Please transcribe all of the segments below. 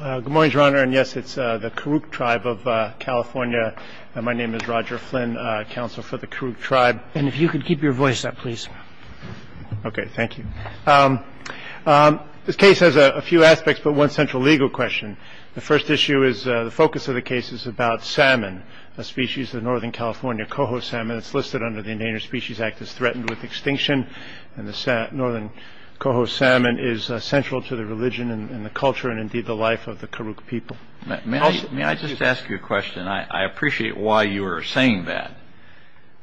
Good morning, Your Honor, and yes, it's the Karuk Tribe of California. My name is Roger Flynn, counsel for the Karuk Tribe. And if you could keep your voice up, please. Okay, thank you. This case has a few aspects, but one central legal question. The first issue is the focus of the case is about salmon, a species of northern California coho salmon. It's listed under the Endangered Species Act as threatened with extinction. And the northern coho salmon is central to the religion and the culture and indeed the life of the Karuk people. May I just ask you a question? I appreciate why you are saying that.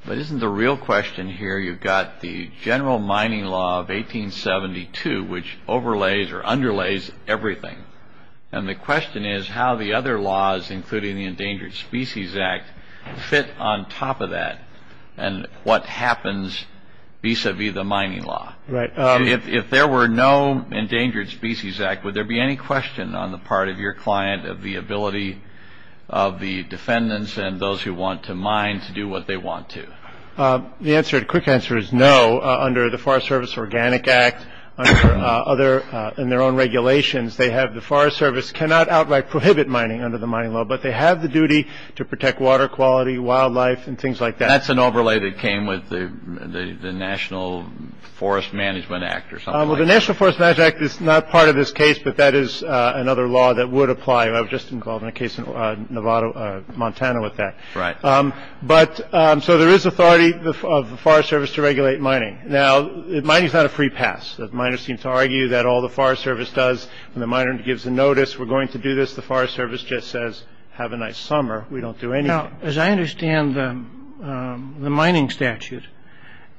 But isn't the real question here, you've got the general mining law of 1872, which overlays or underlays everything. And the question is how the other laws, including the Endangered Species Act, fit on top of that. And what happens vis-a-vis the mining law? Right. If there were no Endangered Species Act, would there be any question on the part of your client of the ability of the defendants and those who want to mine to do what they want to? The quick answer is no. Under the Forest Service Organic Act and their own regulations, the Forest Service cannot outright prohibit mining under the mining law, but they have the duty to protect water quality, wildlife, and things like that. That's an overlay that came with the National Forest Management Act or something. Well, the National Forest Management Act is not part of this case, but that is another law that would apply. I was just involved in a case in Nevada, Montana, with that. Right. But so there is authority of the Forest Service to regulate mining. Now, mining is not a free pass. Miners seem to argue that all the Forest Service does when the miner gives a notice, we're going to do this, the Forest Service just says, have a nice summer. We don't do anything. Now, as I understand the mining statute,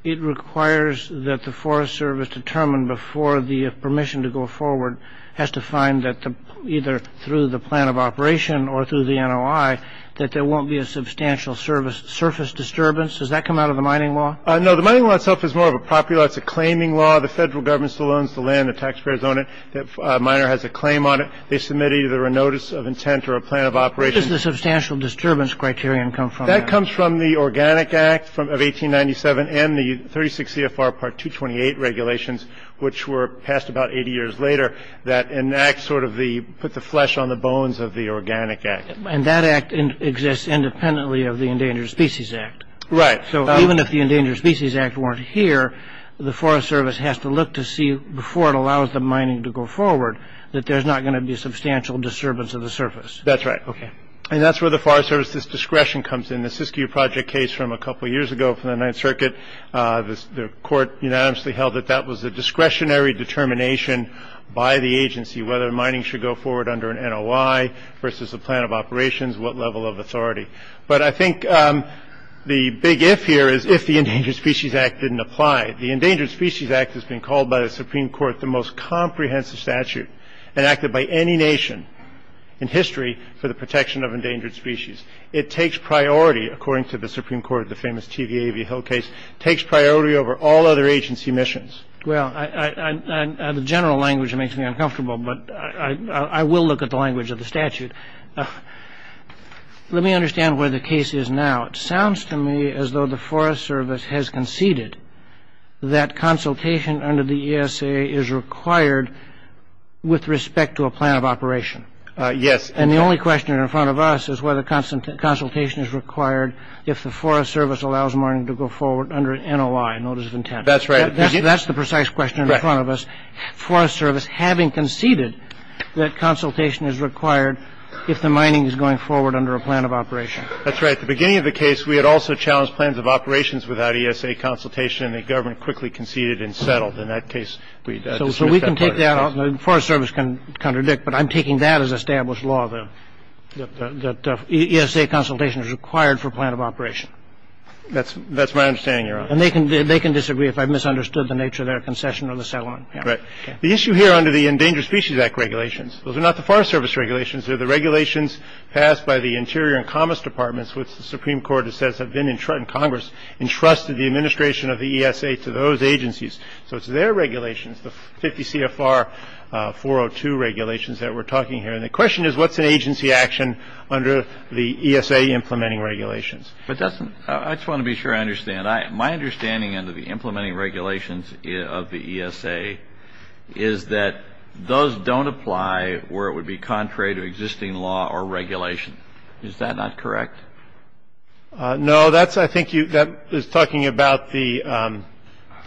it requires that the Forest Service determine before the permission to go forward has to find that either through the plan of operation or through the NOI that there won't be a substantial surface disturbance. Does that come out of the mining law? No, the mining law itself is more of a property law. It's a claiming law. The federal government still owns the land. The taxpayers own it. The miner has a claim on it. They submit either a notice of intent or a plan of operation. Where does the substantial disturbance criterion come from? That comes from the Organic Act of 1897 and the 36 CFR Part 228 regulations, which were passed about 80 years later, that enact sort of the put the flesh on the bones of the Organic Act. And that act exists independently of the Endangered Species Act. Right. So even if the Endangered Species Act weren't here, the Forest Service has to look to see before it allows the mining to go forward that there's not going to be substantial disturbance of the surface. That's right. And that's where the Forest Service's discretion comes in. The Siskiyou Project case from a couple of years ago from the Ninth Circuit, the court unanimously held that that was a discretionary determination by the agency whether mining should go forward under an NOI versus a plan of operations, what level of authority. But I think the big if here is if the Endangered Species Act didn't apply. The Endangered Species Act has been called by the Supreme Court the most comprehensive statute enacted by any nation in history for the protection of endangered species. It takes priority, according to the Supreme Court, the famous TVA v. Hill case, takes priority over all other agency missions. Well, the general language makes me uncomfortable, but I will look at the language of the statute. Let me understand where the case is now. It sounds to me as though the Forest Service has conceded that consultation under the ESA is required with respect to a plan of operation. Yes. And the only question in front of us is whether consultation is required if the Forest Service allows mining to go forward under an NOI, notice of intent. That's right. That's the precise question in front of us, Forest Service having conceded that consultation is required if the mining is going forward under a plan of operation. That's right. At the beginning of the case, we had also challenged plans of operations without ESA consultation, and the government quickly conceded and settled. In that case, we dismissed that part of the case. So we can take that out and the Forest Service can contradict, but I'm taking that as established law, that ESA consultation is required for a plan of operation. That's my understanding, Your Honor. And they can disagree if I've misunderstood the nature of their concession or the settlement. Right. The issue here under the Endangered Species Act regulations, those are not the Forest Service regulations, they're the regulations passed by the Interior and Commerce Departments, which the Supreme Court says have been in Congress, entrusted the administration of the ESA to those agencies. So it's their regulations, the 50 CFR 402 regulations that we're talking here. And the question is, what's an agency action under the ESA implementing regulations? I just want to be sure I understand. My understanding under the implementing regulations of the ESA is that those don't apply where it would be contrary to existing law or regulation. Is that not correct? No, that's, I think you, that is talking about the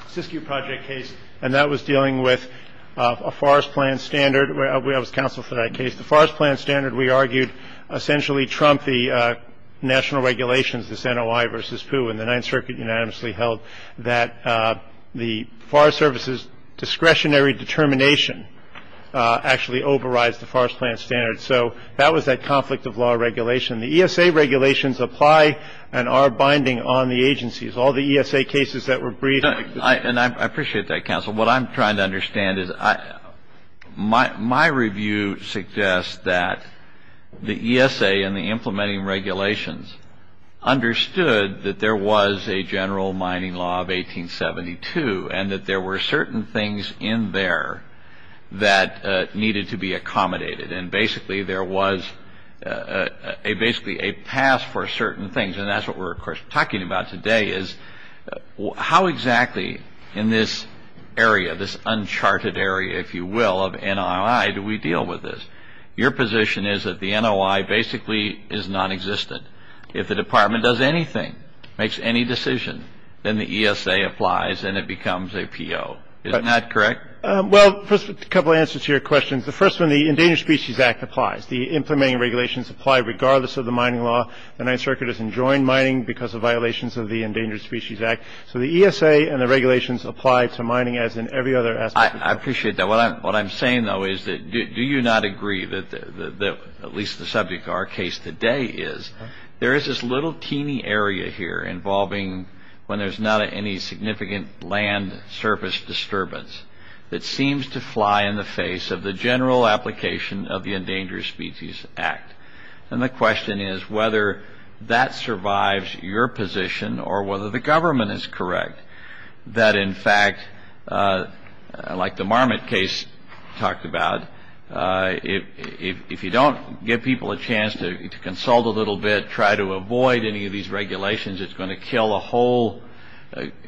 Siskiyou Project case, and that was dealing with a forest plan standard. I was counsel for that case. The forest plan standard, we argued, essentially trumped the national regulations, the Santa Y versus Pooh, and the Ninth Circuit unanimously held that the Forest Service's discretionary determination actually overrides the forest plan standard. So that was that conflict of law regulation. The ESA regulations apply and are binding on the agencies. All the ESA cases that were briefed. And I appreciate that, counsel. What I'm trying to understand is my review suggests that the ESA and the implementing regulations understood that there was a general mining law of 1872 and that there were certain things in there that needed to be accommodated. And basically there was basically a pass for certain things. And that's what we're, of course, talking about today is how exactly in this area, this uncharted area, if you will, of NOI do we deal with this? Your position is that the NOI basically is nonexistent. If the department does anything, makes any decision, then the ESA applies and it becomes a PO. Isn't that correct? Well, first a couple answers to your questions. The first one, the Endangered Species Act applies. The implementing regulations apply regardless of the mining law. The Ninth Circuit has enjoined mining because of violations of the Endangered Species Act. So the ESA and the regulations apply to mining as in every other aspect. I appreciate that. What I'm saying, though, is that do you not agree that at least the subject of our case today is there is this little teeny area here involving when there's not any significant land surface disturbance that seems to fly in the face of the general application of the Endangered Species Act? And the question is whether that survives your position or whether the government is correct that, in fact, like the Marmot case talked about, if you don't give people a chance to consult a little bit, try to avoid any of these regulations, it's going to kill a whole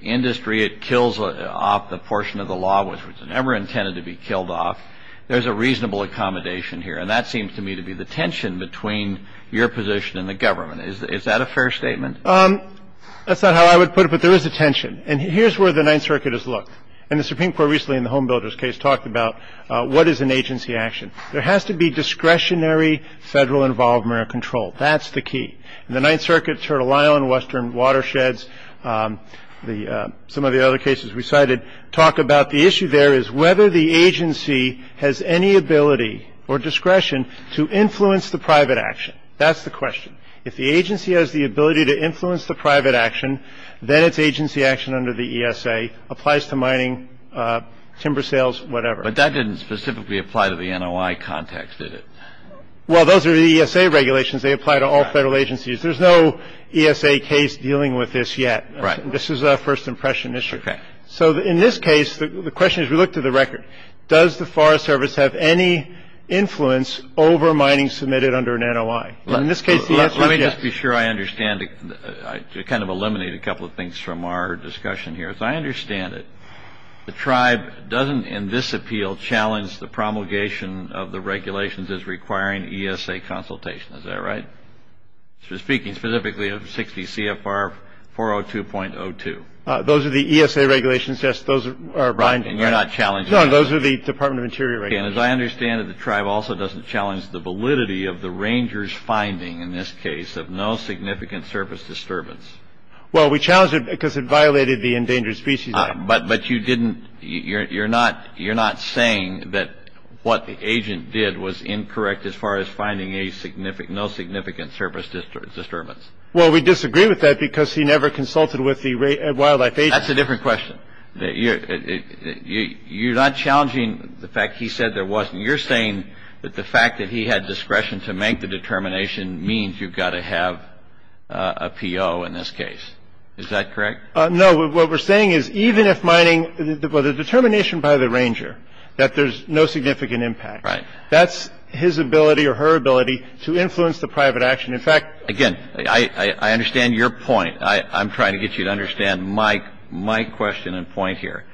industry. It kills off the portion of the law which was never intended to be killed off. There's a reasonable accommodation here. And that seems to me to be the tension between your position and the government. Is that a fair statement? That's not how I would put it, but there is a tension. And here's where the Ninth Circuit has looked. And the Supreme Court recently in the Home Builders case talked about what is an agency action. There has to be discretionary federal involvement or control. That's the key. In the Ninth Circuit, Turtle Island, Western Watersheds, some of the other cases we cited, talk about the issue there is whether the agency has any ability or discretion to influence the private action. That's the question. If the agency has the ability to influence the private action, then it's agency action under the ESA, applies to mining, timber sales, whatever. But that didn't specifically apply to the NOI context, did it? Well, those are the ESA regulations. They apply to all federal agencies. There's no ESA case dealing with this yet. Right. This is a first impression issue. Okay. So in this case, the question is we look to the record. Does the Forest Service have any influence over mining submitted under an NOI? Let me just be sure I understand. I kind of eliminated a couple of things from our discussion here. As I understand it, the tribe doesn't in this appeal challenge the promulgation of the regulations as requiring ESA consultation. Is that right? Speaking specifically of 60 CFR 402.02. Those are the ESA regulations. Yes, those are binding. And you're not challenging them? No, those are the Department of Interior regulations. And as I understand it, the tribe also doesn't challenge the validity of the ranger's finding in this case of no significant surface disturbance. Well, we challenged it because it violated the Endangered Species Act. You're not saying that what the agent did was incorrect as far as finding no significant surface disturbance? Well, we disagree with that because he never consulted with the wildlife agent. That's a different question. You're not challenging the fact he said there was. And you're saying that the fact that he had discretion to make the determination means you've got to have a PO in this case. Is that correct? No. What we're saying is even if mining the determination by the ranger that there's no significant impact. Right. That's his ability or her ability to influence the private action. In fact, again, I understand your point. I'm trying to get you to understand my question and point here.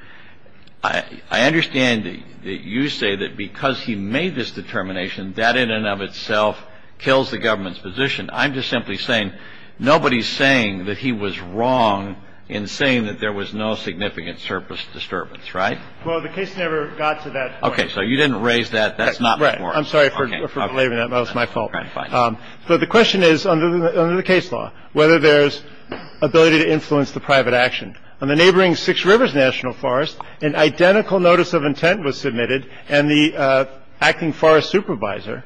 I understand that you say that because he made this determination, that in and of itself kills the government's position. I'm just simply saying nobody's saying that he was wrong in saying that there was no significant surface disturbance. Right. Well, the case never got to that. OK. So you didn't raise that. That's not right. I'm sorry for leaving. That was my fault. But the question is, under the case law, whether there's ability to influence the private action on the neighboring Six Rivers National Forest. Well, I understand your point. And then there was a notice of intent, and then there was an identical notice of intent was submitted. And the acting forest supervisor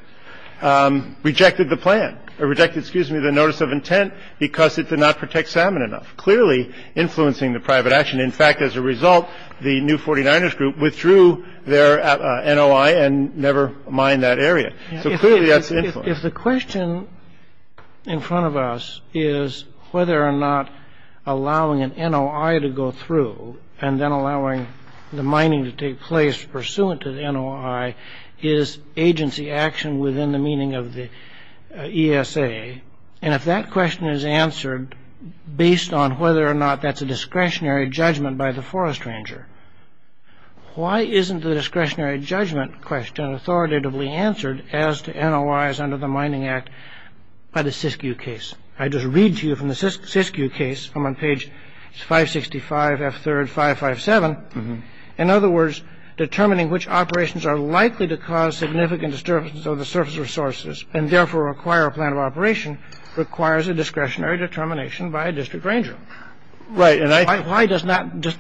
rejected the plan or rejected. Excuse me, the notice of intent, because it did not protect salmon enough, clearly influencing the private action. And in fact, as a result, the new 49ers group withdrew their N.O.I. and never mined that area. If the question in front of us is whether or not allowing an N.O.I. to go through and then allowing the mining to take place pursuant to the N.O.I. is agency action within the meaning of the ESA. And if that question is answered based on whether or not that's a discretionary judgment by the forest ranger, why isn't the discretionary judgment question authoritatively answered as to N.O.I.s under the Mining Act by the SISKU case? I just read to you from the SISKU case. I'm on page 565, F3, 557. In other words, determining which operations are likely to cause significant disturbances of the surface resources and therefore require a plan of operation requires a discretionary determination by a district ranger. Right. And I think why does that just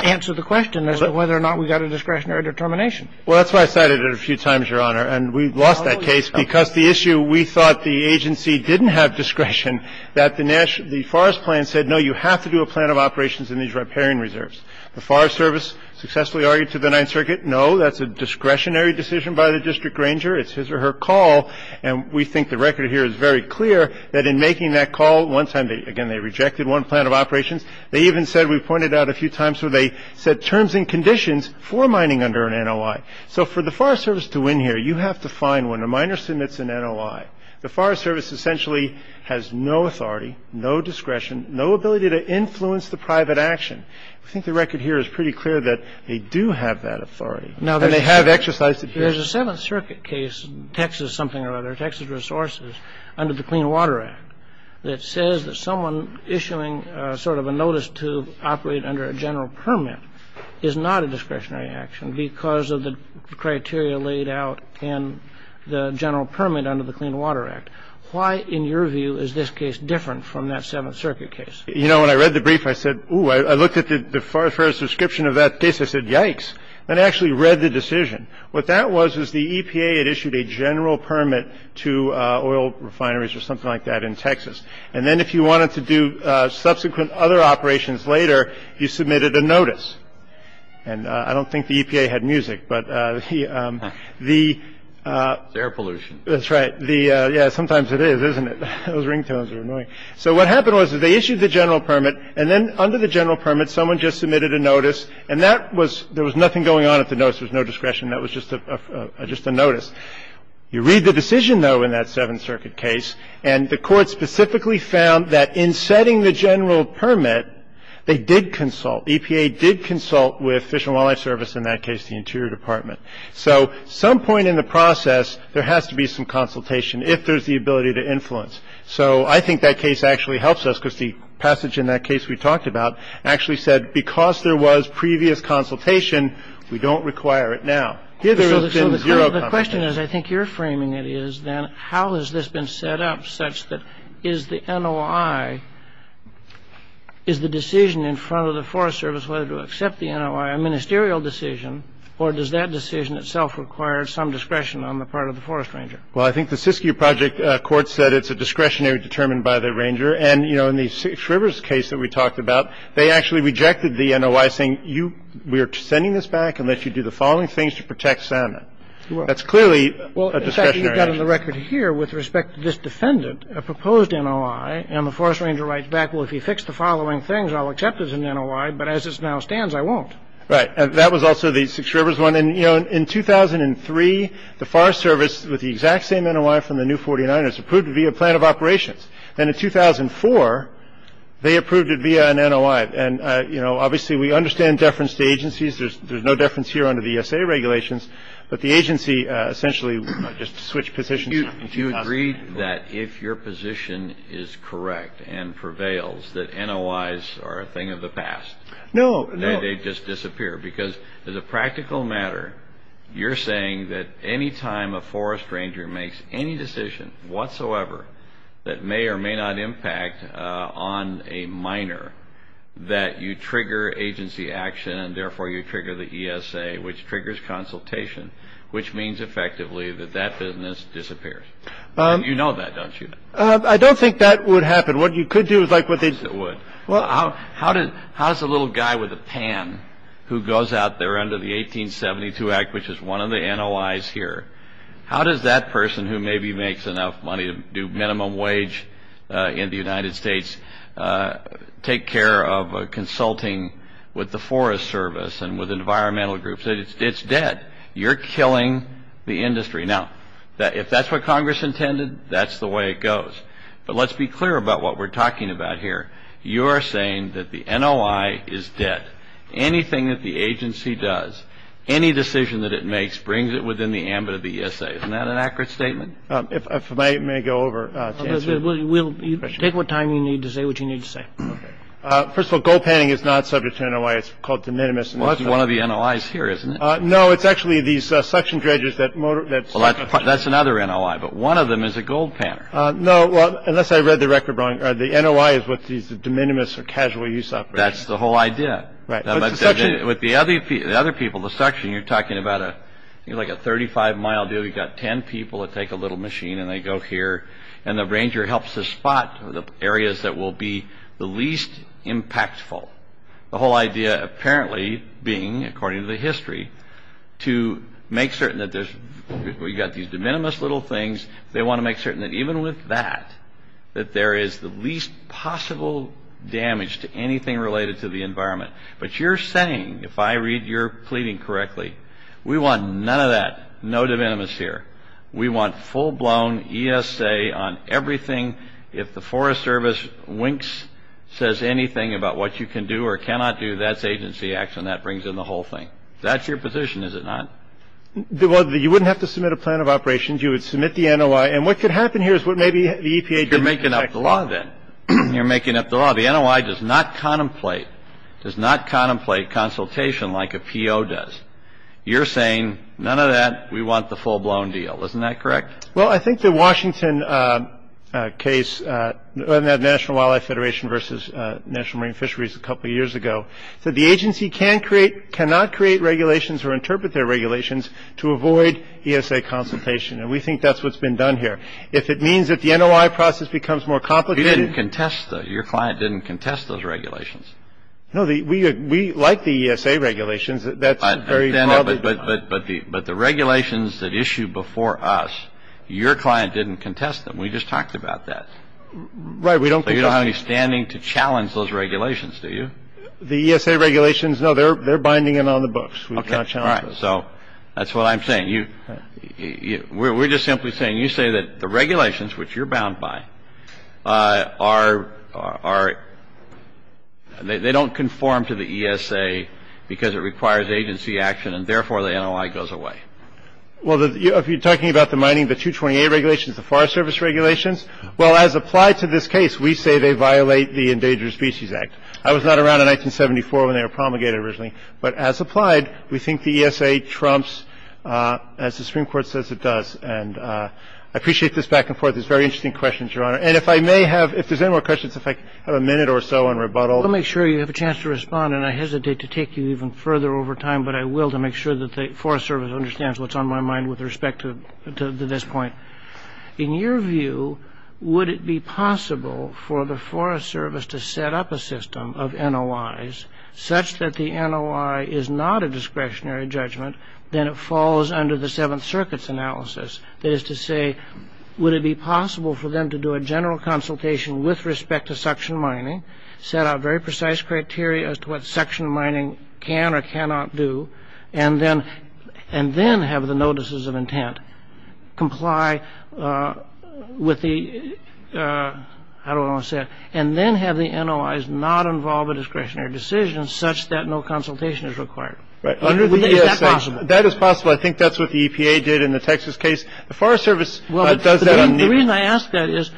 answer the question as to whether or not we got a discretionary determination? Well, that's why I cited it a few times, Your Honor. And we lost that case because the issue we thought the agency didn't have discretion, that the forest plan said, no, you have to do a plan of operations in these riparian reserves. The Forest Service successfully argued to the Ninth Circuit, no, that's a discretionary decision by the district ranger. It's his or her call. And we think the record here is very clear that in making that call, one time, again, they rejected one plan of operations. They even said, we pointed out a few times where they said terms and conditions for mining under an N.O.I. So for the Forest Service to win here, you have to find when a miner submits an N.O.I., the Forest Service essentially has no authority, no discretion, no ability to influence the private action. I think the record here is pretty clear that they do have that authority. And they have exercised it here. There's a Seventh Circuit case, Texas something or other, Texas Resources, under the Clean Water Act, that says that someone issuing sort of a notice to operate under a general permit is not a discretionary action because of the criteria laid out in the general permit under the Clean Water Act. Why, in your view, is this case different from that Seventh Circuit case? You know, when I read the brief, I said, ooh, I looked at the Forest Service description of that case. I said, yikes. And I actually read the decision. What that was is the EPA had issued a general permit to oil refineries or something like that in Texas. And then if you wanted to do subsequent other operations later, you submitted a notice. And I don't think the EPA had music, but the air pollution. That's right. The yeah, sometimes it is, isn't it? Those ringtones are annoying. So what happened was that they issued the general permit. And then under the general permit, someone just submitted a notice. And that was – there was nothing going on at the notice. There was no discretion. That was just a notice. You read the decision, though, in that Seventh Circuit case. And the Court specifically found that in setting the general permit, they did consult. EPA did consult with Fish and Wildlife Service, in that case the Interior Department. So some point in the process, there has to be some consultation if there's the ability to influence. So I think that case actually helps us because the passage in that case we talked about actually said, because there was previous consultation, we don't require it now. So the question is, I think you're framing it, is then how has this been set up such that is the NOI – is the decision in front of the Forest Service whether to accept the NOI a ministerial decision or does that decision itself require some discretion on the part of the forest ranger? Well, I think the Siskiyou Project Court said it's a discretionary determined by the ranger. And, you know, in the Six Rivers case that we talked about, they actually rejected the NOI saying, we are sending this back unless you do the following things to protect salmon. That's clearly a discretionary action. Well, in fact, you've got on the record here, with respect to this defendant, a proposed NOI. And the forest ranger writes back, well, if you fix the following things, I'll accept it as an NOI. But as it now stands, I won't. Right. And that was also the Six Rivers one. And, you know, in 2003, the Forest Service, with the exact same NOI from the new 49ers, approved it via a plan of operations. And in 2004, they approved it via an NOI. And, you know, obviously we understand deference to agencies. There's no deference here under the ESA regulations. But the agency essentially just switched positions. You agreed that if your position is correct and prevails, that NOIs are a thing of the past. No, no. Because as a practical matter, you're saying that any time a forest ranger makes any decision whatsoever that may or may not impact on a minor, that you trigger agency action and, therefore, you trigger the ESA, which triggers consultation, which means effectively that that business disappears. You know that, don't you? I don't think that would happen. What you could do is like what they did. Well, how does a little guy with a pan who goes out there under the 1872 Act, which is one of the NOIs here, how does that person who maybe makes enough money to do minimum wage in the United States, take care of consulting with the Forest Service and with environmental groups? It's dead. You're killing the industry. Now, if that's what Congress intended, that's the way it goes. But let's be clear about what we're talking about here. You're saying that the NOI is dead. Anything that the agency does, any decision that it makes, brings it within the ambit of the ESA. Isn't that an accurate statement? If I may go over, Chancellor. Take what time you need to say what you need to say. First of all, gold panning is not subject to NOI. It's called de minimis. Well, it's one of the NOIs here, isn't it? No, it's actually these suction dredgers that motor – Well, that's another NOI. But one of them is a gold panner. No, well, unless I read the record wrong. The NOI is what these de minimis are casual use operations. That's the whole idea. Right. With the other people, the suction, you're talking about like a 35-mile deal. You've got 10 people that take a little machine, and they go here, and the ranger helps to spot the areas that will be the least impactful. The whole idea apparently being, according to the history, to make certain that there's – we've got these de minimis little things. They want to make certain that even with that, that there is the least possible damage to anything related to the environment. But you're saying, if I read your pleading correctly, we want none of that. No de minimis here. We want full-blown ESA on everything. If the Forest Service winks, says anything about what you can do or cannot do, that's agency action. That brings in the whole thing. That's your position, is it not? Well, you wouldn't have to submit a plan of operations. You would submit the NOI. And what could happen here is what maybe the EPA didn't expect. You're making up the law, then. You're making up the law. The NOI does not contemplate consultation like a PO does. You're saying, none of that. We want the full-blown deal. Isn't that correct? Well, I think the Washington case, the National Wildlife Federation versus National Marine Fisheries a couple years ago, said the agency cannot create regulations or interpret their regulations to avoid ESA consultation. And we think that's what's been done here. If it means that the NOI process becomes more complicated — You didn't contest those. Your client didn't contest those regulations. No. We like the ESA regulations. That's very — But the regulations that issue before us, your client didn't contest them. We just talked about that. Right. We don't — So you don't have me standing to challenge those regulations, do you? They're binding it on the books. We've not challenged those. Okay. All right. So that's what I'm saying. We're just simply saying, you say that the regulations, which you're bound by, they don't conform to the ESA because it requires agency action, and therefore the NOI goes away. Well, if you're talking about the mining, the 228 regulations, the Forest Service regulations, well, as applied to this case, we say they violate the Endangered Species Act. That was not around in 1974 when they were promulgated originally. But as applied, we think the ESA trumps, as the Supreme Court says it does. And I appreciate this back and forth. It's very interesting questions, Your Honor. And if I may have — if there's any more questions, if I have a minute or so in rebuttal. I'll make sure you have a chance to respond, and I hesitate to take you even further over time, but I will to make sure that the Forest Service understands what's on my mind with respect to this point. In your view, would it be possible for the Forest Service to set up a system of NOIs such that the NOI is not a discretionary judgment, then it falls under the Seventh Circuit's analysis? That is to say, would it be possible for them to do a general consultation with respect to suction mining, set out very precise criteria as to what suction mining can or cannot do, and then have the notices of intent comply with the — how do I want to say it? And then have the NOIs not involve a discretionary decision such that no consultation is required? Right. Is that possible? That is possible. I think that's what the EPA did in the Texas case. The Forest Service does that on — Well, the reason I ask that is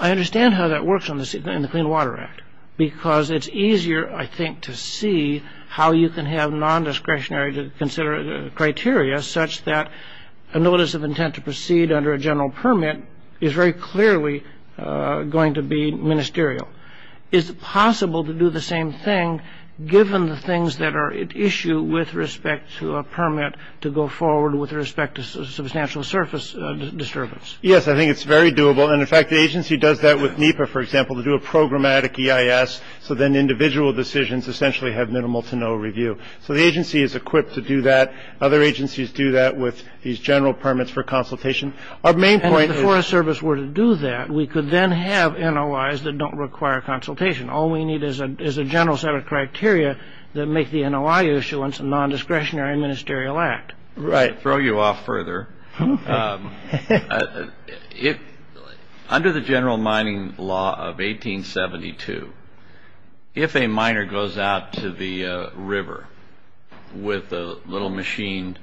I understand how that works in the Clean Water Act, because it's easier, I think, to see how you can have non-discretionary criteria such that a notice of intent to proceed under a general permit is very clearly going to be ministerial. Is it possible to do the same thing, given the things that are at issue with respect to a permit to go forward with respect to substantial surface disturbance? Yes, I think it's very doable. And, in fact, the agency does that with NEPA, for example, to do a programmatic EIS, so then individual decisions essentially have minimal to no review. So the agency is equipped to do that. Other agencies do that with these general permits for consultation. Our main point is — And if the Forest Service were to do that, we could then have NOIs that don't require consultation. All we need is a general set of criteria that make the NOI issuance a non-discretionary ministerial act. Right. To throw you off further, under the general mining law of 1872, if a miner goes out to the river with a little machine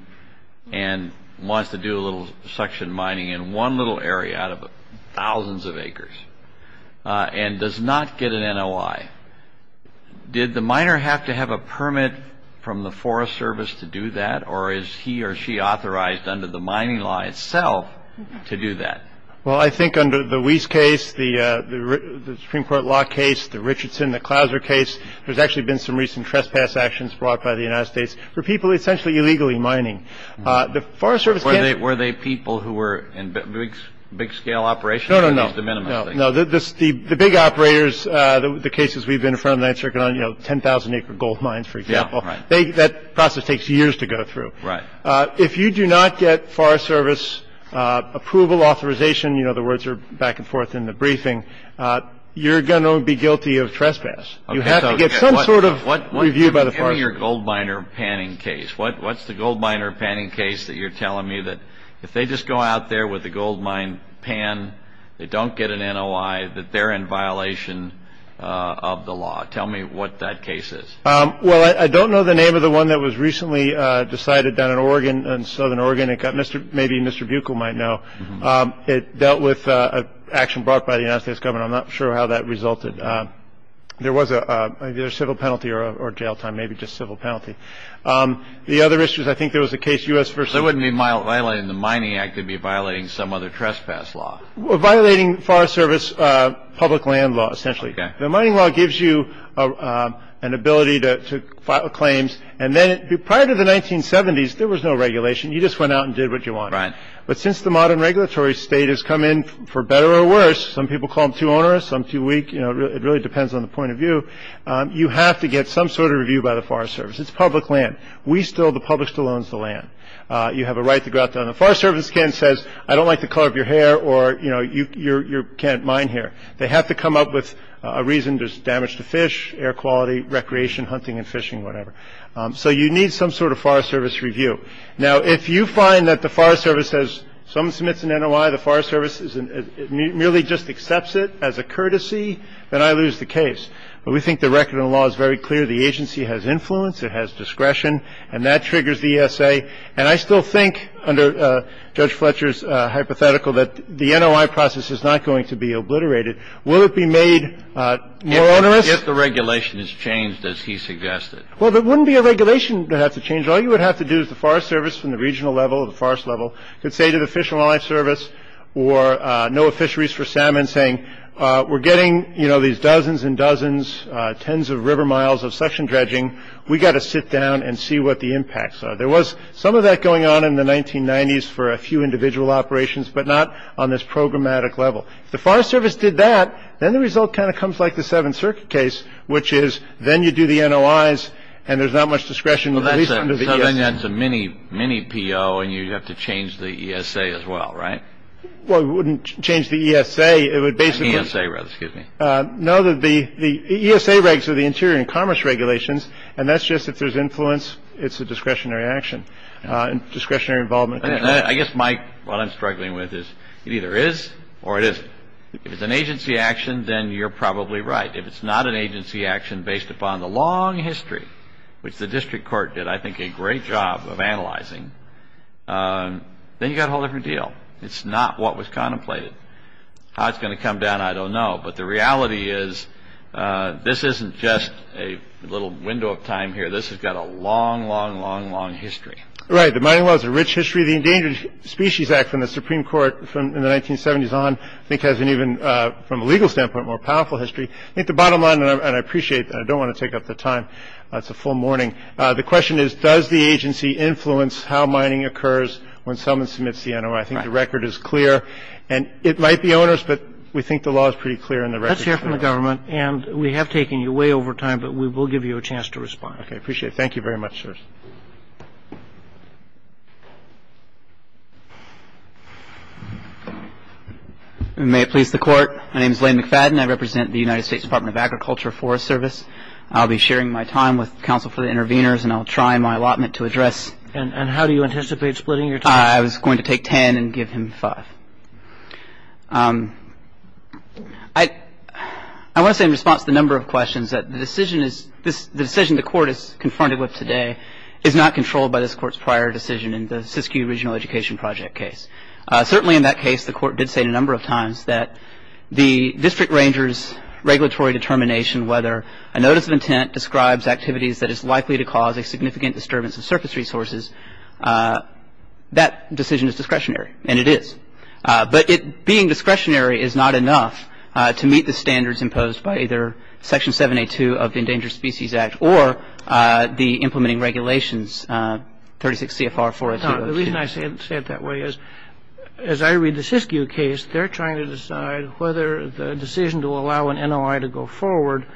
and wants to do a little suction mining in one little area out of thousands of acres and does not get an NOI, did the miner have to have a permit from the Forest Service to do that, or is he or she authorized under the mining law itself to do that? Well, I think under the Weiss case, the Supreme Court law case, the Richardson, the Clouser case, there's actually been some recent trespass actions brought by the United States for people essentially illegally mining. The Forest Service can't — Were they people who were in big-scale operations? No, no, no. At least the minimum. No, no. The big operators, the cases we've been in front of, you know, 10,000-acre gold mines, for example. Yeah, right. That process takes years to go through. Right. If you do not get Forest Service approval, authorization — you know, the words are back and forth in the briefing — you're going to be guilty of trespass. You have to get some sort of review by the Forest Service. What's your gold miner panning case? What's the gold miner panning case that you're telling me that if they just go out there with a gold mine pan, they don't get an NOI, that they're in violation of the law? Tell me what that case is. Well, I don't know the name of the one that was recently decided down in Oregon, in southern Oregon. Maybe Mr. Buechel might know. It dealt with an action brought by the United States government. I'm not sure how that resulted. There was either a civil penalty or a jail time, maybe just civil penalty. The other issue is I think there was a case — So it wouldn't be violating the Mining Act. It would be violating some other trespass law. Violating Forest Service public land law, essentially. The mining law gives you an ability to file claims. And then prior to the 1970s, there was no regulation. You just went out and did what you wanted. But since the modern regulatory state has come in, for better or worse — some people call them too onerous, some too weak, you know, it really depends on the point of view — you have to get some sort of review by the Forest Service. It's public land. We still — the public still owns the land. You have a right to go out there. And the Forest Service again says, I don't like the color of your hair or, you know, you can't mine here. They have to come up with a reason. There's damage to fish, air quality, recreation, hunting and fishing, whatever. So you need some sort of Forest Service review. Now, if you find that the Forest Service has — someone submits an NOI, the Forest Service merely just accepts it as a courtesy, then I lose the case. But we think the record in the law is very clear. The agency has influence. It has discretion. And that triggers the ESA. And I still think, under Judge Fletcher's hypothetical, that the NOI process is not going to be obliterated. Will it be made more onerous? If the regulation is changed, as he suggested. Well, there wouldn't be a regulation that has to change. All you would have to do is the Forest Service from the regional level, the forest level, could say to the Fish and Wildlife Service or NOAA Fisheries for Salmon saying, we're getting, you know, these dozens and dozens, tens of river miles of suction dredging. We've got to sit down and see what the impacts are. There was some of that going on in the 1990s for a few individual operations, but not on this programmatic level. If the Forest Service did that, then the result kind of comes like the Seventh Circuit case, which is then you do the NOIs and there's not much discretion. Well, that's a mini PO and you'd have to change the ESA as well, right? Well, we wouldn't change the ESA. It would basically — The ESA rather, excuse me. No, the ESA regs are the Interior and Commerce Regulations. And that's just if there's influence, it's a discretionary action. Discretionary involvement. I guess, Mike, what I'm struggling with is it either is or it isn't. If it's an agency action, then you're probably right. If it's not an agency action based upon the long history, which the district court did, I think, a great job of analyzing, then you've got a whole different deal. It's not what was contemplated. How it's going to come down, I don't know. But the reality is this isn't just a little window of time here. This has got a long, long, long, long history. Right. The mining law is a rich history. The Endangered Species Act from the Supreme Court from the 1970s on, I think, has an even, from a legal standpoint, more powerful history. I think the bottom line, and I appreciate that. I don't want to take up the time. It's a full morning. The question is, does the agency influence how mining occurs when someone submits the NOI? I think the record is clear. And it might be onerous, but we think the law is pretty clear in the record. Let's hear from the government. And we have taken you way over time, but we will give you a chance to respond. Okay. I appreciate it. Thank you very much, sirs. May it please the Court. My name is Lane McFadden. I represent the United States Department of Agriculture Forest Service. I'll be sharing my time with counsel for the interveners, and I'll try my allotment to address. And how do you anticipate splitting your time? I was going to take ten and give him five. I want to say in response to the number of questions that the decision is, the decision the Court is confronted with today is not controlled by this Court's prior decision in the Siskiyou Regional Education Project case. Certainly in that case, the Court did say a number of times that the district ranger's regulatory determination, whether a notice of intent describes activities that is likely to cause a significant disturbance of surface resources, that decision is discretionary. And it is. But being discretionary is not enough to meet the standards imposed by either Section 782 of the Endangered Species Act or the implementing regulations, 36 CFR 402. The reason I say it that way is, as I read the Siskiyou case, they're trying to decide whether the decision to allow an NOI to go forward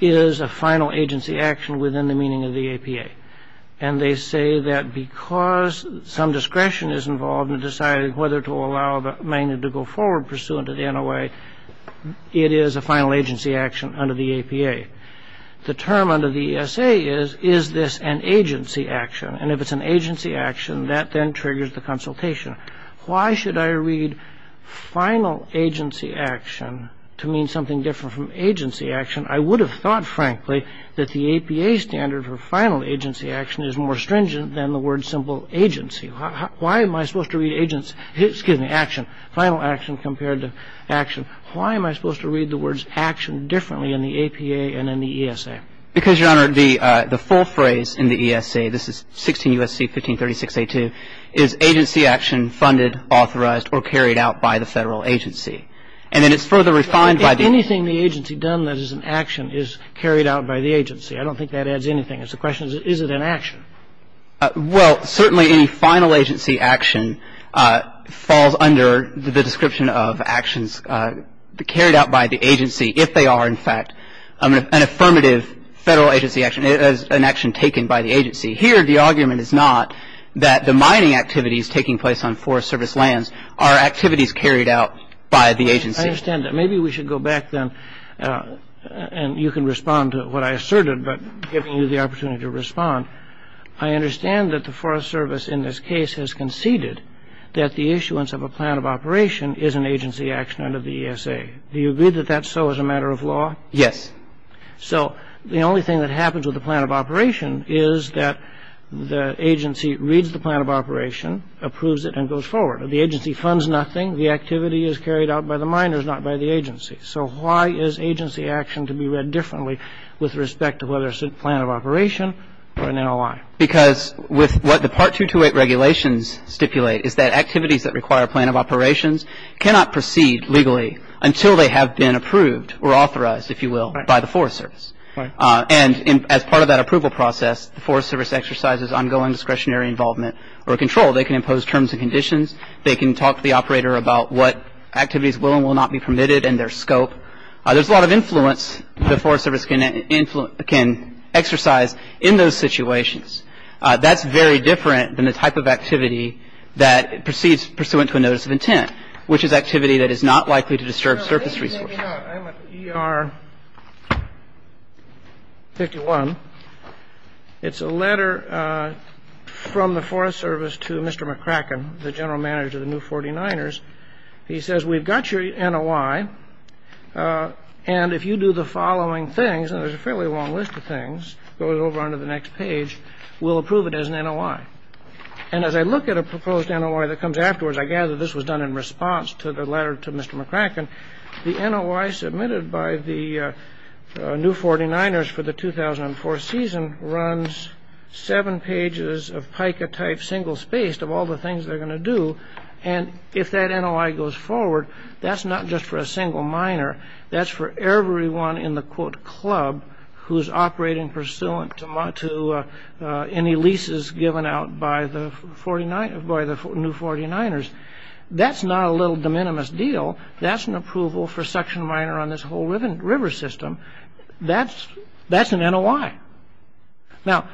is a final agency action within the meaning of the APA. And they say that because some discretion is involved in deciding whether to allow the magnet to go forward pursuant to the NOI, it is a final agency action under the APA. The term under the ESA is, is this an agency action? And if it's an agency action, that then triggers the consultation. Why should I read final agency action to mean something different from agency action? I would have thought, frankly, that the APA standard for final agency action is more stringent than the word simple agency. Why am I supposed to read agency, excuse me, action, final action compared to action? Why am I supposed to read the words action differently in the APA and in the ESA? Because, Your Honor, the full phrase in the ESA, this is 16 U.S.C. 1536a2, is agency action funded, authorized, or carried out by the Federal agency. And then it's further refined by the agency. Anything the agency done that is an action is carried out by the agency. I don't think that adds anything. The question is, is it an action? Well, certainly any final agency action falls under the description of actions carried out by the agency, if they are, in fact, an affirmative Federal agency action, an action taken by the agency. Here, the argument is not that the mining activities taking place on Forest Service lands are activities carried out by the agency. I understand that. Maybe we should go back, then, and you can respond to what I asserted by giving you the opportunity to respond. I understand that the Forest Service in this case has conceded that the issuance of a plan of operation is an agency action under the ESA. Do you agree that that's so as a matter of law? Yes. So the only thing that happens with the plan of operation is that the agency reads the plan of operation, approves it, and goes forward. The agency funds nothing. The activity is carried out by the miners, not by the agency. So why is agency action to be read differently with respect to whether it's a plan of operation or an NLI? Because with what the Part 228 regulations stipulate is that activities that require a plan of operations cannot proceed legally until they have been approved or authorized, if you will, by the Forest Service. Right. And as part of that approval process, the Forest Service exercises ongoing discretionary involvement or control. They can impose terms and conditions. They can talk to the operator about what activities will and will not be permitted and their scope. There's a lot of influence the Forest Service can exercise in those situations. That's very different than the type of activity that proceeds pursuant to a notice of intent, which is activity that is not likely to disturb surface resources. I'm at ER 51. It's a letter from the Forest Service to Mr. McCracken, the general manager of the new 49ers. He says, we've got your NOI, and if you do the following things, and there's a fairly long list of things, it goes over onto the next page, we'll approve it as an NOI. And as I look at a proposed NOI that comes afterwards, I gather this was done in response to the letter to Mr. McCracken. The NOI submitted by the new 49ers for the 2004 season runs seven pages of PICA-type single-spaced of all the things they're going to do. And if that NOI goes forward, that's not just for a single minor. That's for everyone in the, quote, club who's operating pursuant to any leases given out by the new 49ers. That's not a little de minimis deal. That's an approval for suction minor on this whole river system. That's an NOI. Now,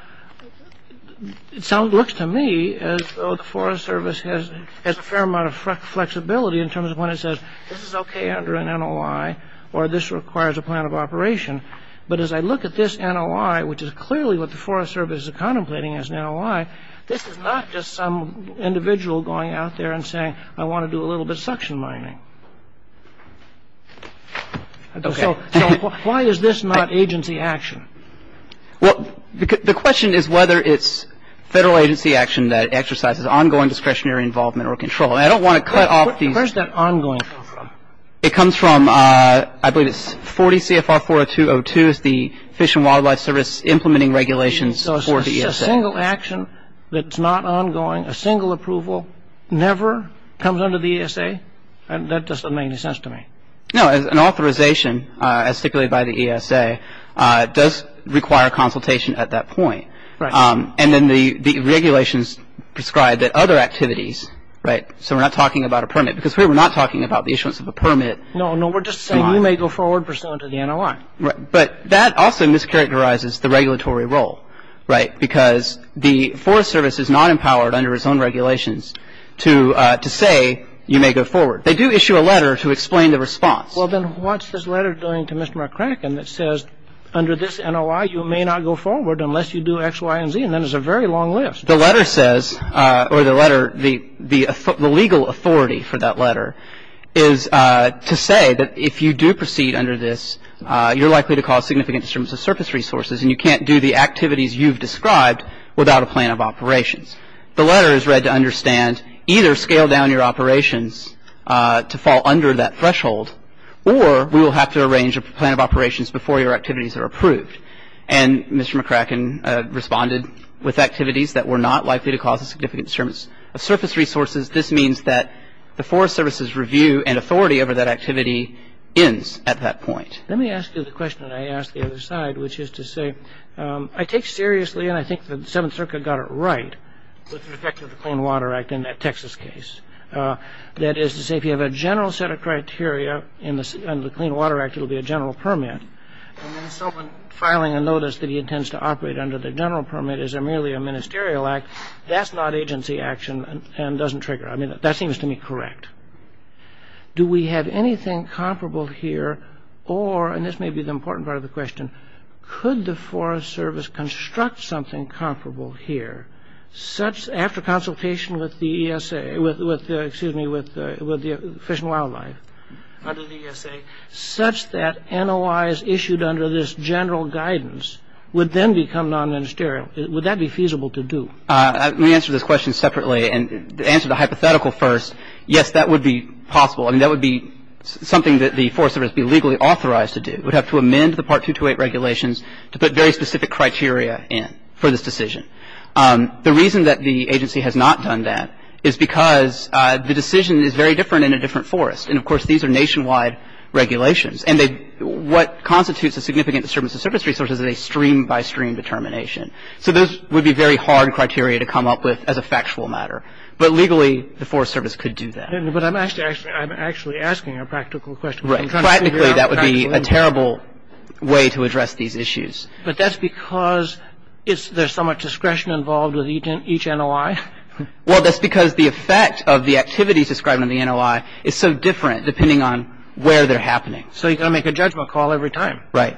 it looks to me as though the Forest Service has a fair amount of flexibility in terms of when it says, this is okay under an NOI, or this requires a plan of operation. But as I look at this NOI, which is clearly what the Forest Service is contemplating as an NOI, this is not just some individual going out there and saying, I want to do a little bit of suction mining. So why is this not agency action? Well, the question is whether it's federal agency action that exercises ongoing discretionary involvement or control. And I don't want to cut off these. Where does that ongoing come from? It comes from, I believe it's 40 CFR 40202. It's the Fish and Wildlife Service implementing regulations for the ESA. So a single action that's not ongoing, a single approval, never comes under the ESA? That doesn't make any sense to me. No. An authorization, as stipulated by the ESA, does require consultation at that point. Right. And then the regulations prescribe that other activities, right, so we're not talking about a permit, because here we're not talking about the issuance of a permit. No, no. We're just saying you may go forward pursuant to the NOI. Right. But that also mischaracterizes the regulatory role, right, because the Forest Service is not empowered under its own regulations to say you may go forward. They do issue a letter to explain the response. Well, then what's this letter doing to Mr. McCracken that says under this NOI, you may not go forward unless you do X, Y, and Z, and then it's a very long list. The letter says, or the letter, the legal authority for that letter is to say that if you do proceed under this, you're likely to cause significant disturbance of surface resources and you can't do the activities you've described without a plan of operations. The letter is read to understand either scale down your operations to fall under that threshold or we will have to arrange a plan of operations before your activities are approved. And Mr. McCracken responded with activities that were not likely to cause a significant disturbance of surface resources. This means that the Forest Service's review and authority over that activity ends at that point. Let me ask you the question that I asked the other side, which is to say, I take seriously and I think the Seventh Circuit got it right with respect to the Clean Water Act in that Texas case. That is to say, if you have a general set of criteria in the Clean Water Act, it will be a general permit. And then someone filing a notice that he intends to operate under the general permit is merely a ministerial act. That's not agency action and doesn't trigger. I mean, that seems to me correct. Do we have anything comparable here or, and this may be the important part of the question, could the Forest Service construct something comparable here after consultation with the ESA, excuse me, with Fish and Wildlife under the ESA, such that NOIs issued under this general guidance would then become non-ministerial? Would that be feasible to do? Let me answer this question separately and answer the hypothetical first. Yes, that would be possible. I mean, that would be something that the Forest Service would be legally authorized to do. It would have to amend the Part 228 regulations to put very specific criteria in for this decision. The reason that the agency has not done that is because the decision is very different in a different forest. And, of course, these are nationwide regulations. And what constitutes a significant disturbance to service resources is a stream-by-stream determination. So those would be very hard criteria to come up with as a factual matter. But legally, the Forest Service could do that. But I'm actually asking a practical question. Practically, that would be a terrible way to address these issues. But that's because there's so much discretion involved with each NOI? Well, that's because the effect of the activities described in the NOI is so different depending on where they're happening. So you've got to make a judgment call every time. Right.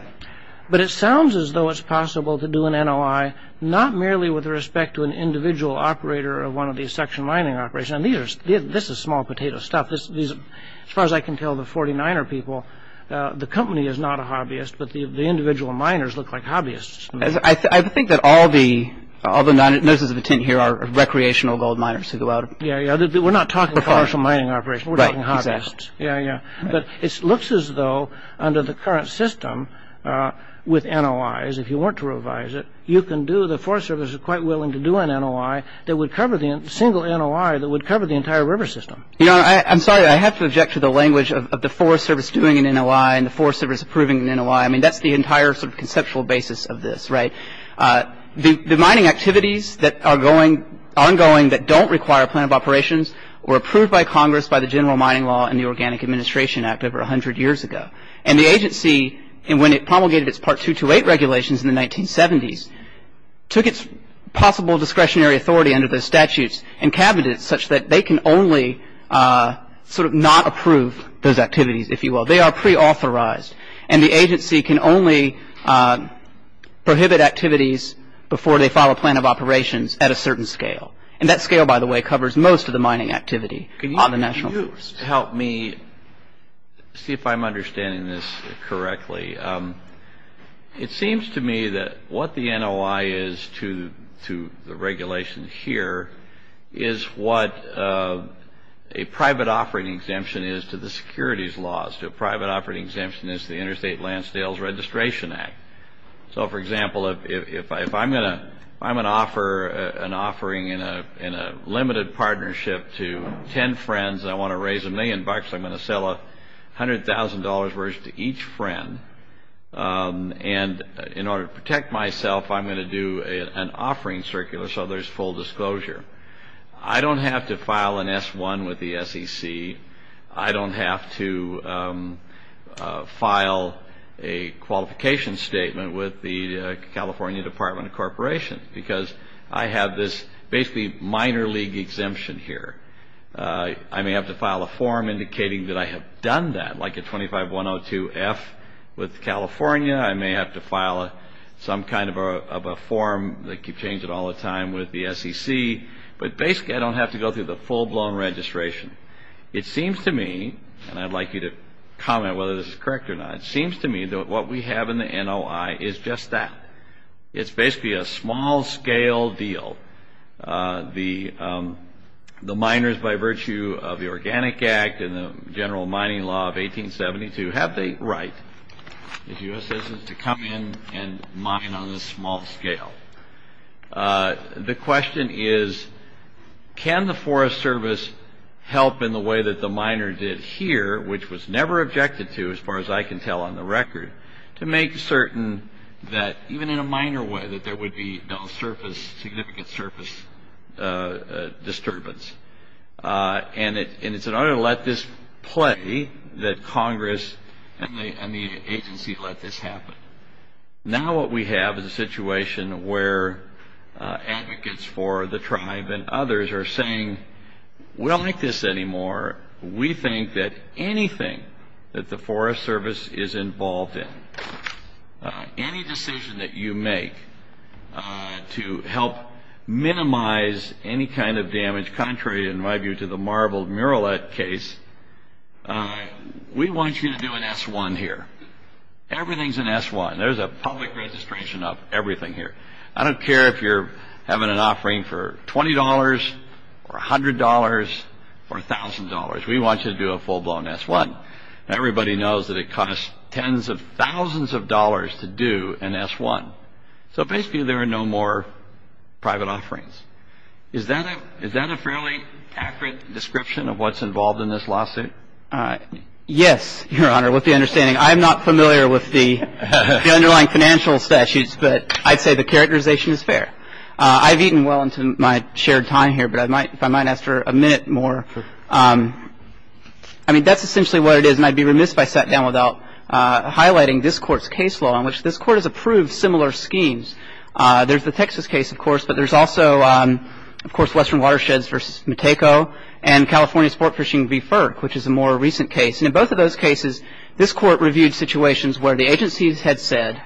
But it sounds as though it's possible to do an NOI not merely with respect to an individual operator of one of these section mining operations. And this is small potato stuff. As far as I can tell, the 49er people, the company is not a hobbyist, but the individual miners look like hobbyists. I think that all the notices of attention here are recreational gold miners who go out. Yeah, yeah. We're not talking commercial mining operations. We're talking hobbyists. Right. Exactly. Yeah, yeah. But it looks as though under the current system with NOIs, if you want to revise it, you can do the Forest Service is quite willing to do an NOI that would cover the single NOI that would cover the entire river system. You know, I'm sorry. I have to object to the language of the Forest Service doing an NOI and the Forest Service approving an NOI. I mean, that's the entire sort of conceptual basis of this. Right. The mining activities that are ongoing that don't require a plan of operations were approved by Congress by the General Mining Law and the Organic Administration Act over 100 years ago. And the agency, when it promulgated its Part 228 regulations in the 1970s, took its possible discretionary authority under the statutes and cabinets such that they can only sort of not approve those activities, if you will. They are preauthorized. And the agency can only prohibit activities before they file a plan of operations at a certain scale. And that scale, by the way, covers most of the mining activity on the National Forest. Just to help me see if I'm understanding this correctly, it seems to me that what the NOI is to the regulations here is what a private offering exemption is to the securities laws. A private offering exemption is the Interstate Lansdale's Registration Act. So, for example, if I'm going to offer an offering in a limited partnership to 10 friends and I want to raise a million bucks, I'm going to sell $100,000 worth to each friend. And in order to protect myself, I'm going to do an offering circular so there's full disclosure. I don't have to file an S-1 with the SEC. I don't have to file a qualification statement with the California Department of Corporation because I have this basically minor league exemption here. I may have to file a form indicating that I have done that, like a 25-102-F with California. I may have to file some kind of a form that you change it all the time with the SEC. But basically, I don't have to go through the full-blown registration. It seems to me, and I'd like you to comment whether this is correct or not, it seems to me that what we have in the NOI is just that. It's basically a small-scale deal. The miners, by virtue of the Organic Act and the General Mining Law of 1872, have the right, the U.S. doesn't, to come in and mine on this small scale. The question is, can the Forest Service help in the way that the miner did here, which was never objected to, as far as I can tell on the record, to make certain that, even in a minor way, that there would be no significant surface disturbance. And it's in order to let this play, that Congress and the agency let this happen. Now what we have is a situation where advocates for the tribe and others are saying, we don't like this anymore. We think that anything that the Forest Service is involved in, any decision that you make to help minimize any kind of damage, contrary, in my view, to the Marble Murillette case, we want you to do an S-1 here. Everything's an S-1. There's a public registration of everything here. I don't care if you're having an offering for $20 or $100 or $1,000. We want you to do a full-blown S-1. Everybody knows that it costs tens of thousands of dollars to do an S-1. So basically there are no more private offerings. Is that a fairly accurate description of what's involved in this lawsuit? Yes, Your Honor, with the understanding. I'm not familiar with the underlying financial statutes, but I'd say the characterization is fair. I've eaten well into my shared time here, but if I might ask for a minute more. I mean, that's essentially what it is. And I'd be remiss if I sat down without highlighting this Court's case law, in which this Court has approved similar schemes. There's the Texas case, of course, but there's also, of course, Western Watersheds v. Matejko and California Sportfishing v. FERC, which is a more recent case. And in both of those cases, this Court reviewed situations where the agencies had said,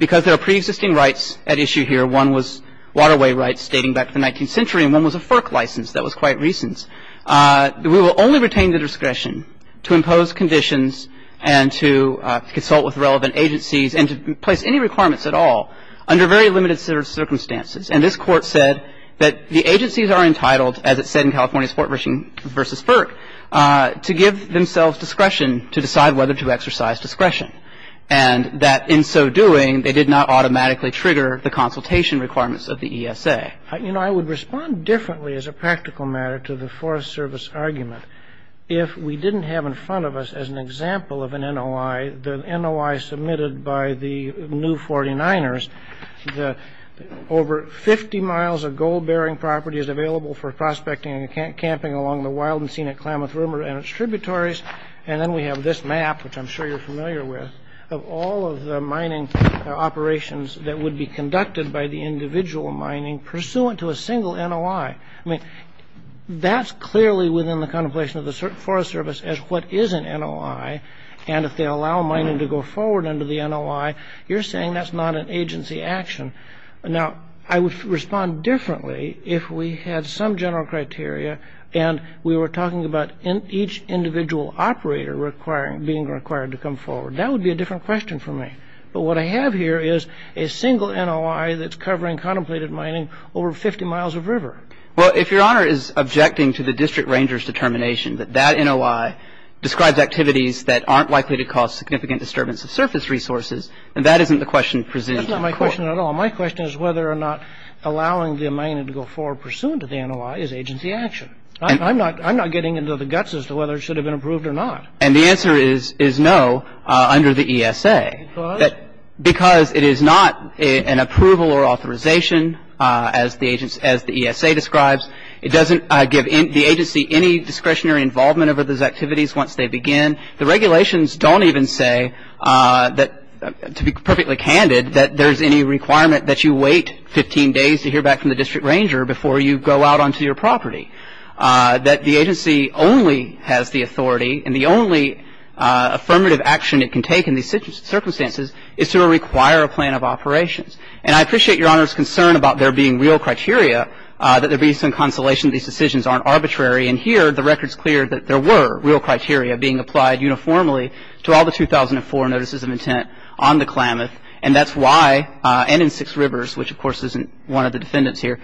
because there are preexisting rights at issue here, one was waterway rights dating back to the 19th century and one was a FERC license that was quite recent. We will only retain the discretion to impose conditions and to consult with relevant agencies and to place any requirements at all under very limited circumstances. And this Court said that the agencies are entitled, as it said in California Sportfishing v. FERC, to give themselves discretion to decide whether to exercise discretion, and that in so doing, they did not automatically trigger the consultation requirements of the ESA. You know, I would respond differently as a practical matter to the Forest Service argument. If we didn't have in front of us, as an example of an NOI, the NOI submitted by the new 49ers, over 50 miles of gold-bearing property is available for prospecting and camping along the wild and scenic Klamath River and its tributaries. And then we have this map, which I'm sure you're familiar with, of all of the mining operations that would be conducted by the individual mining pursuant to a single NOI. I mean, that's clearly within the contemplation of the Forest Service as what is an NOI. And if they allow mining to go forward under the NOI, you're saying that's not an agency action. Now, I would respond differently if we had some general criteria and we were talking about each individual operator being required to come forward. That would be a different question for me. But what I have here is a single NOI that's covering contemplated mining over 50 miles of river. Well, if Your Honor is objecting to the district ranger's determination that that NOI describes activities that aren't likely to cause significant disturbance of surface resources, then that isn't the question presented in court. That's not my question at all. My question is whether or not allowing the mining to go forward pursuant to the NOI is agency action. I'm not getting into the guts as to whether it should have been approved or not. And the answer is no under the ESA. Because? Because it is not an approval or authorization as the ESA describes. It doesn't give the agency any discretionary involvement over those activities once they begin. The regulations don't even say that, to be perfectly candid, that there's any requirement that you wait 15 days to hear back from the district ranger before you go out onto your property. That the agency only has the authority and the only affirmative action it can take in these circumstances is to require a plan of operations. And I appreciate Your Honor's concern about there being real criteria, that there be some consolation that these decisions aren't arbitrary. And here, the record's clear that there were real criteria being applied uniformly to all the 2004 notices of intent on the Klamath. And that's why, and in Six Rivers, which, of course, isn't one of the defendants here,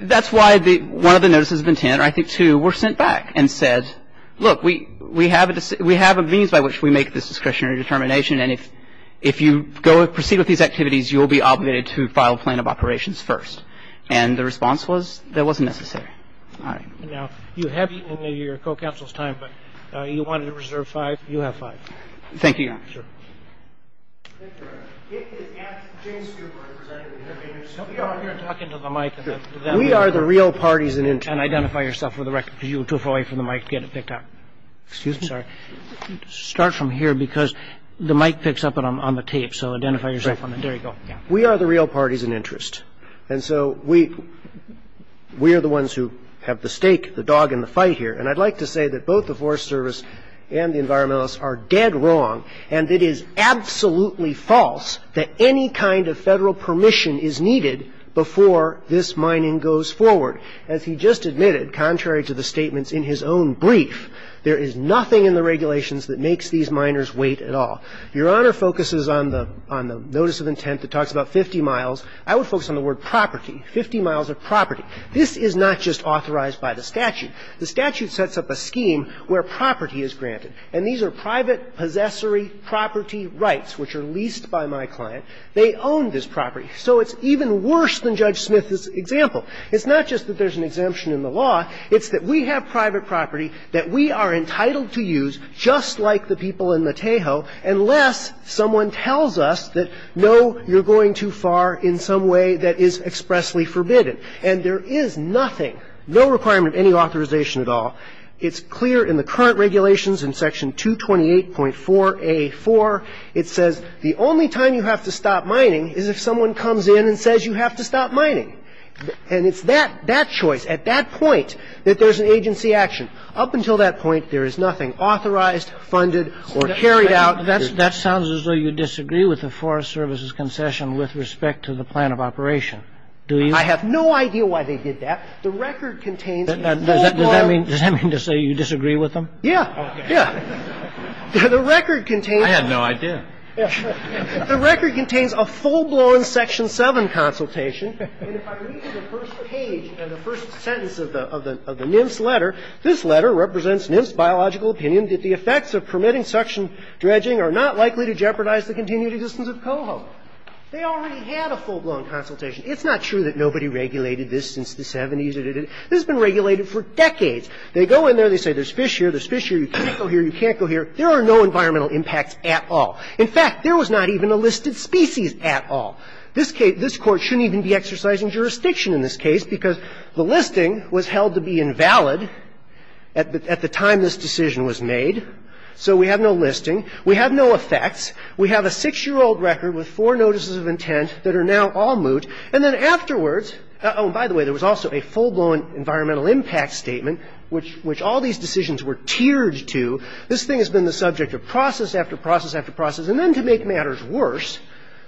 that's why one of the notices of intent, or I think two, were sent back and said, look, we have a means by which we make this discretionary determination, and if you go and proceed with these activities, you will be obligated to file a plan of operations first. And the response was, that wasn't necessary. All right. Now, you have eaten into your co-counsel's time, but you wanted to reserve five. You have five. Thank you, Your Honor. Sure. James Cooper, I presented to you. Help me out here and talk into the mic. We are the real parties in this case. And identify yourself for the record, because you were too far away from the mic to get it picked up. Excuse me? Sorry. Start from here, because the mic picks up on the tape. So identify yourself. There you go. We are the real parties in interest. And so we are the ones who have the stake, the dog in the fight here. And I'd like to say that both the Forest Service and the environmentalists are dead wrong, and it is absolutely false that any kind of federal permission is needed before this mining goes forward. As he just admitted, contrary to the statements in his own brief, there is nothing in the regulations that makes these miners wait at all. If Your Honor focuses on the notice of intent that talks about 50 miles, I would focus on the word property, 50 miles of property. This is not just authorized by the statute. The statute sets up a scheme where property is granted. And these are private possessory property rights which are leased by my client. They own this property. So it's even worse than Judge Smith's example. It's not just that there's an exemption in the law. It's that we have private property that we are entitled to use, just like the people in the Tejo, unless someone tells us that, no, you're going too far in some way that is expressly forbidden. And there is nothing, no requirement of any authorization at all. It's clear in the current regulations in Section 228.4a.4. It says the only time you have to stop mining is if someone comes in and says you have to stop mining. And it's that choice, at that point, that there's an agency action. Up until that point, there is nothing authorized, funded, or carried out. That sounds as though you disagree with the Forest Service's concession with respect to the plan of operation. Do you? I have no idea why they did that. The record contains full-blown. Does that mean to say you disagree with them? Yeah. Yeah. The record contains. I had no idea. The record contains a full-blown Section 7 consultation. And if I read you the first page and the first sentence of the NIMS letter, this letter represents NIMS' biological opinion that the effects of permitting suction dredging are not likely to jeopardize the continued existence of coho. They already had a full-blown consultation. It's not true that nobody regulated this since the 70s. This has been regulated for decades. They go in there, they say there's fish here, there's fish here, you can't go here, you can't go here. There are no environmental impacts at all. In fact, there was not even a listed species at all. This Court shouldn't even be exercising jurisdiction in this case because the listing was held to be invalid at the time this decision was made. So we have no listing. We have no effects. We have a six-year-old record with four notices of intent that are now all moot. And then afterwards, oh, and by the way, there was also a full-blown environmental impact statement, which all these decisions were tiered to. This thing has been the subject of process after process after process. And then to make matters worse,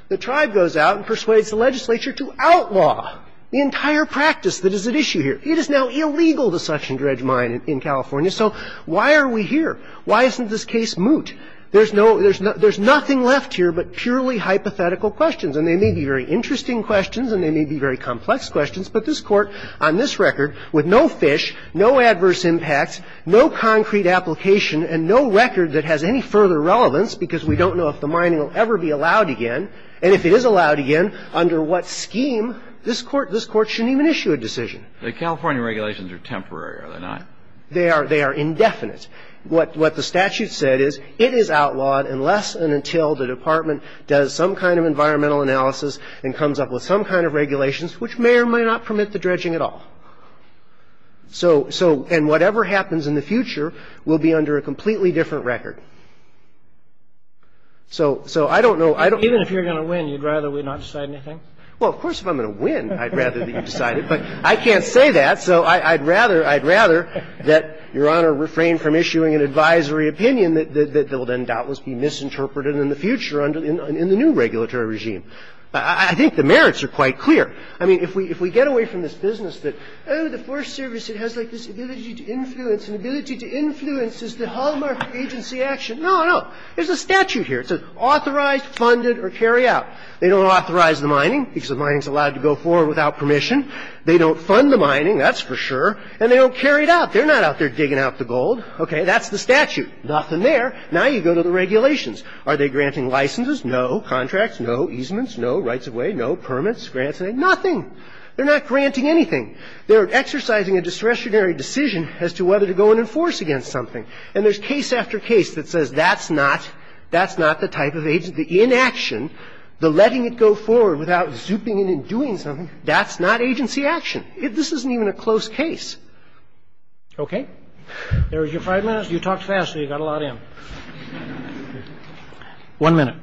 the tribe goes out and persuades the legislature to outlaw the entire practice that is at issue here. It is now illegal to suction dredge mine in California. So why are we here? Why isn't this case moot? There's no – there's nothing left here but purely hypothetical questions. And they may be very interesting questions and they may be very complex questions, but this Court, on this record, with no fish, no adverse impacts, no concrete application, and no record that has any further relevance because we don't know if the mining will ever be allowed again, and if it is allowed again, under what scheme, this Court shouldn't even issue a decision. The California regulations are temporary, are they not? They are indefinite. What the statute said is it is outlawed unless and until the Department does some kind of environmental analysis and comes up with some kind of regulations, which may or may not permit the dredging at all. So – and whatever happens in the future will be under a completely different record. So I don't know. Even if you're going to win, you'd rather we not decide anything? Well, of course if I'm going to win, I'd rather that you decide it. But I can't say that, so I'd rather that Your Honor refrain from issuing an advisory opinion that will then doubtless be misinterpreted in the future in the new regulatory regime. I think the merits are quite clear. I mean, if we get away from this business that, oh, the Forest Service, it has like this ability to influence, and ability to influence is the hallmark agency action. No, no. There's a statute here. It says authorized, funded, or carry out. They don't authorize the mining because the mining is allowed to go forward without permission. They don't fund the mining, that's for sure. And they don't carry it out. They're not out there digging out the gold. That's the statute. Nothing there. Now you go to the regulations. Are they granting licenses? No. Contracts? No. Easements? No. Rights of way? No. Permits? Grants? Nothing. They're not granting anything. They're exercising a discretionary decision as to whether to go and enforce against something. And there's case after case that says that's not the type of agency. The inaction, the letting it go forward without zooping in and doing something, that's not agency action. This isn't even a close case. Okay? There was your five minutes. You talked fast, so you got a lot in. One minute.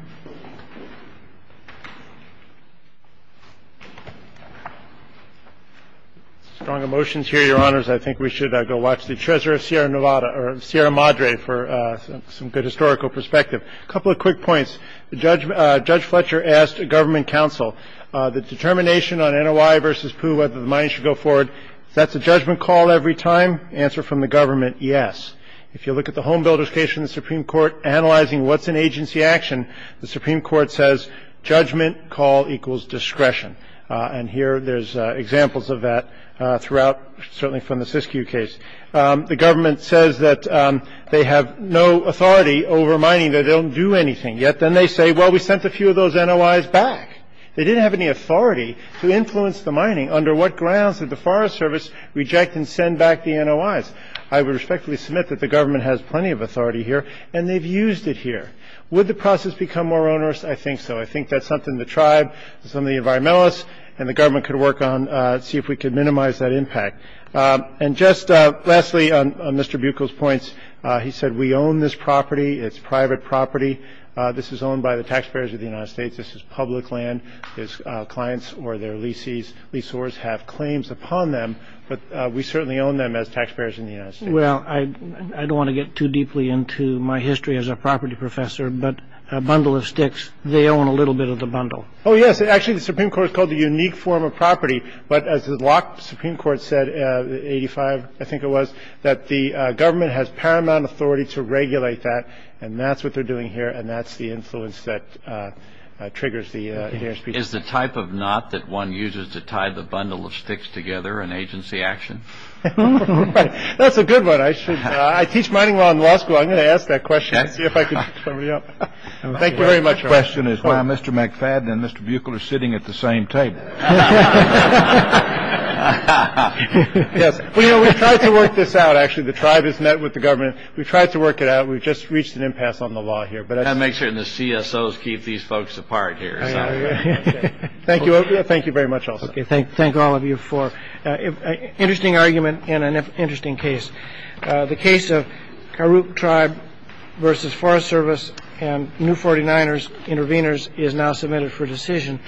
Strong emotions here, Your Honors. I think we should go watch the Treasurer of Sierra Nevada or Sierra Madre for some good historical perspective. A couple of quick points. Judge Fletcher asked a government counsel, the determination on NOI versus POO, whether the mine should go forward. That's a judgment call every time. Answer from the government, yes. If you look at the Home Builders case in the Supreme Court, analyzing what's in agency action, the Supreme Court says judgment call equals discretion. And here there's examples of that throughout, certainly from the Siskiyou case. The government says that they have no authority over mining. They don't do anything. Yet then they say, well, we sent a few of those NOIs back. They didn't have any authority to influence the mining. Under what grounds did the Forest Service reject and send back the NOIs? I would respectfully submit that the government has plenty of authority here, and they've used it here. Would the process become more onerous? I think so. I think that's something the tribe, some of the environmentalists, and the government could work on, see if we could minimize that impact. And just lastly, on Mr. Buechel's points, he said we own this property. It's private property. This is owned by the taxpayers of the United States. This is public land. Clients or their leasehors have claims upon them. But we certainly own them as taxpayers in the United States. Well, I don't want to get too deeply into my history as a property professor, but a bundle of sticks, they own a little bit of the bundle. Oh, yes. Actually, the Supreme Court called it a unique form of property. But as the Supreme Court said, 85, I think it was, that the government has paramount authority to regulate that. And that's what they're doing here. And that's the influence that triggers the hearing. Is the type of knot that one uses to tie the bundle of sticks together an agency action? That's a good one. I should. I teach mining law in law school. I'm going to ask that question. See if I can. Thank you very much. The question is why Mr. McFadden and Mr. Buechel are sitting at the same table. Yes. We tried to work this out. Actually, the tribe is met with the government. We tried to work it out. We've just reached an impasse on the law here. But I make sure the CSOs keep these folks apart here. Thank you. Thank you very much. OK. Thank thank all of you for an interesting argument in an interesting case. The case of Kirook tribe versus Forest Service and New Forty Niners intervenors is now submitted for decision.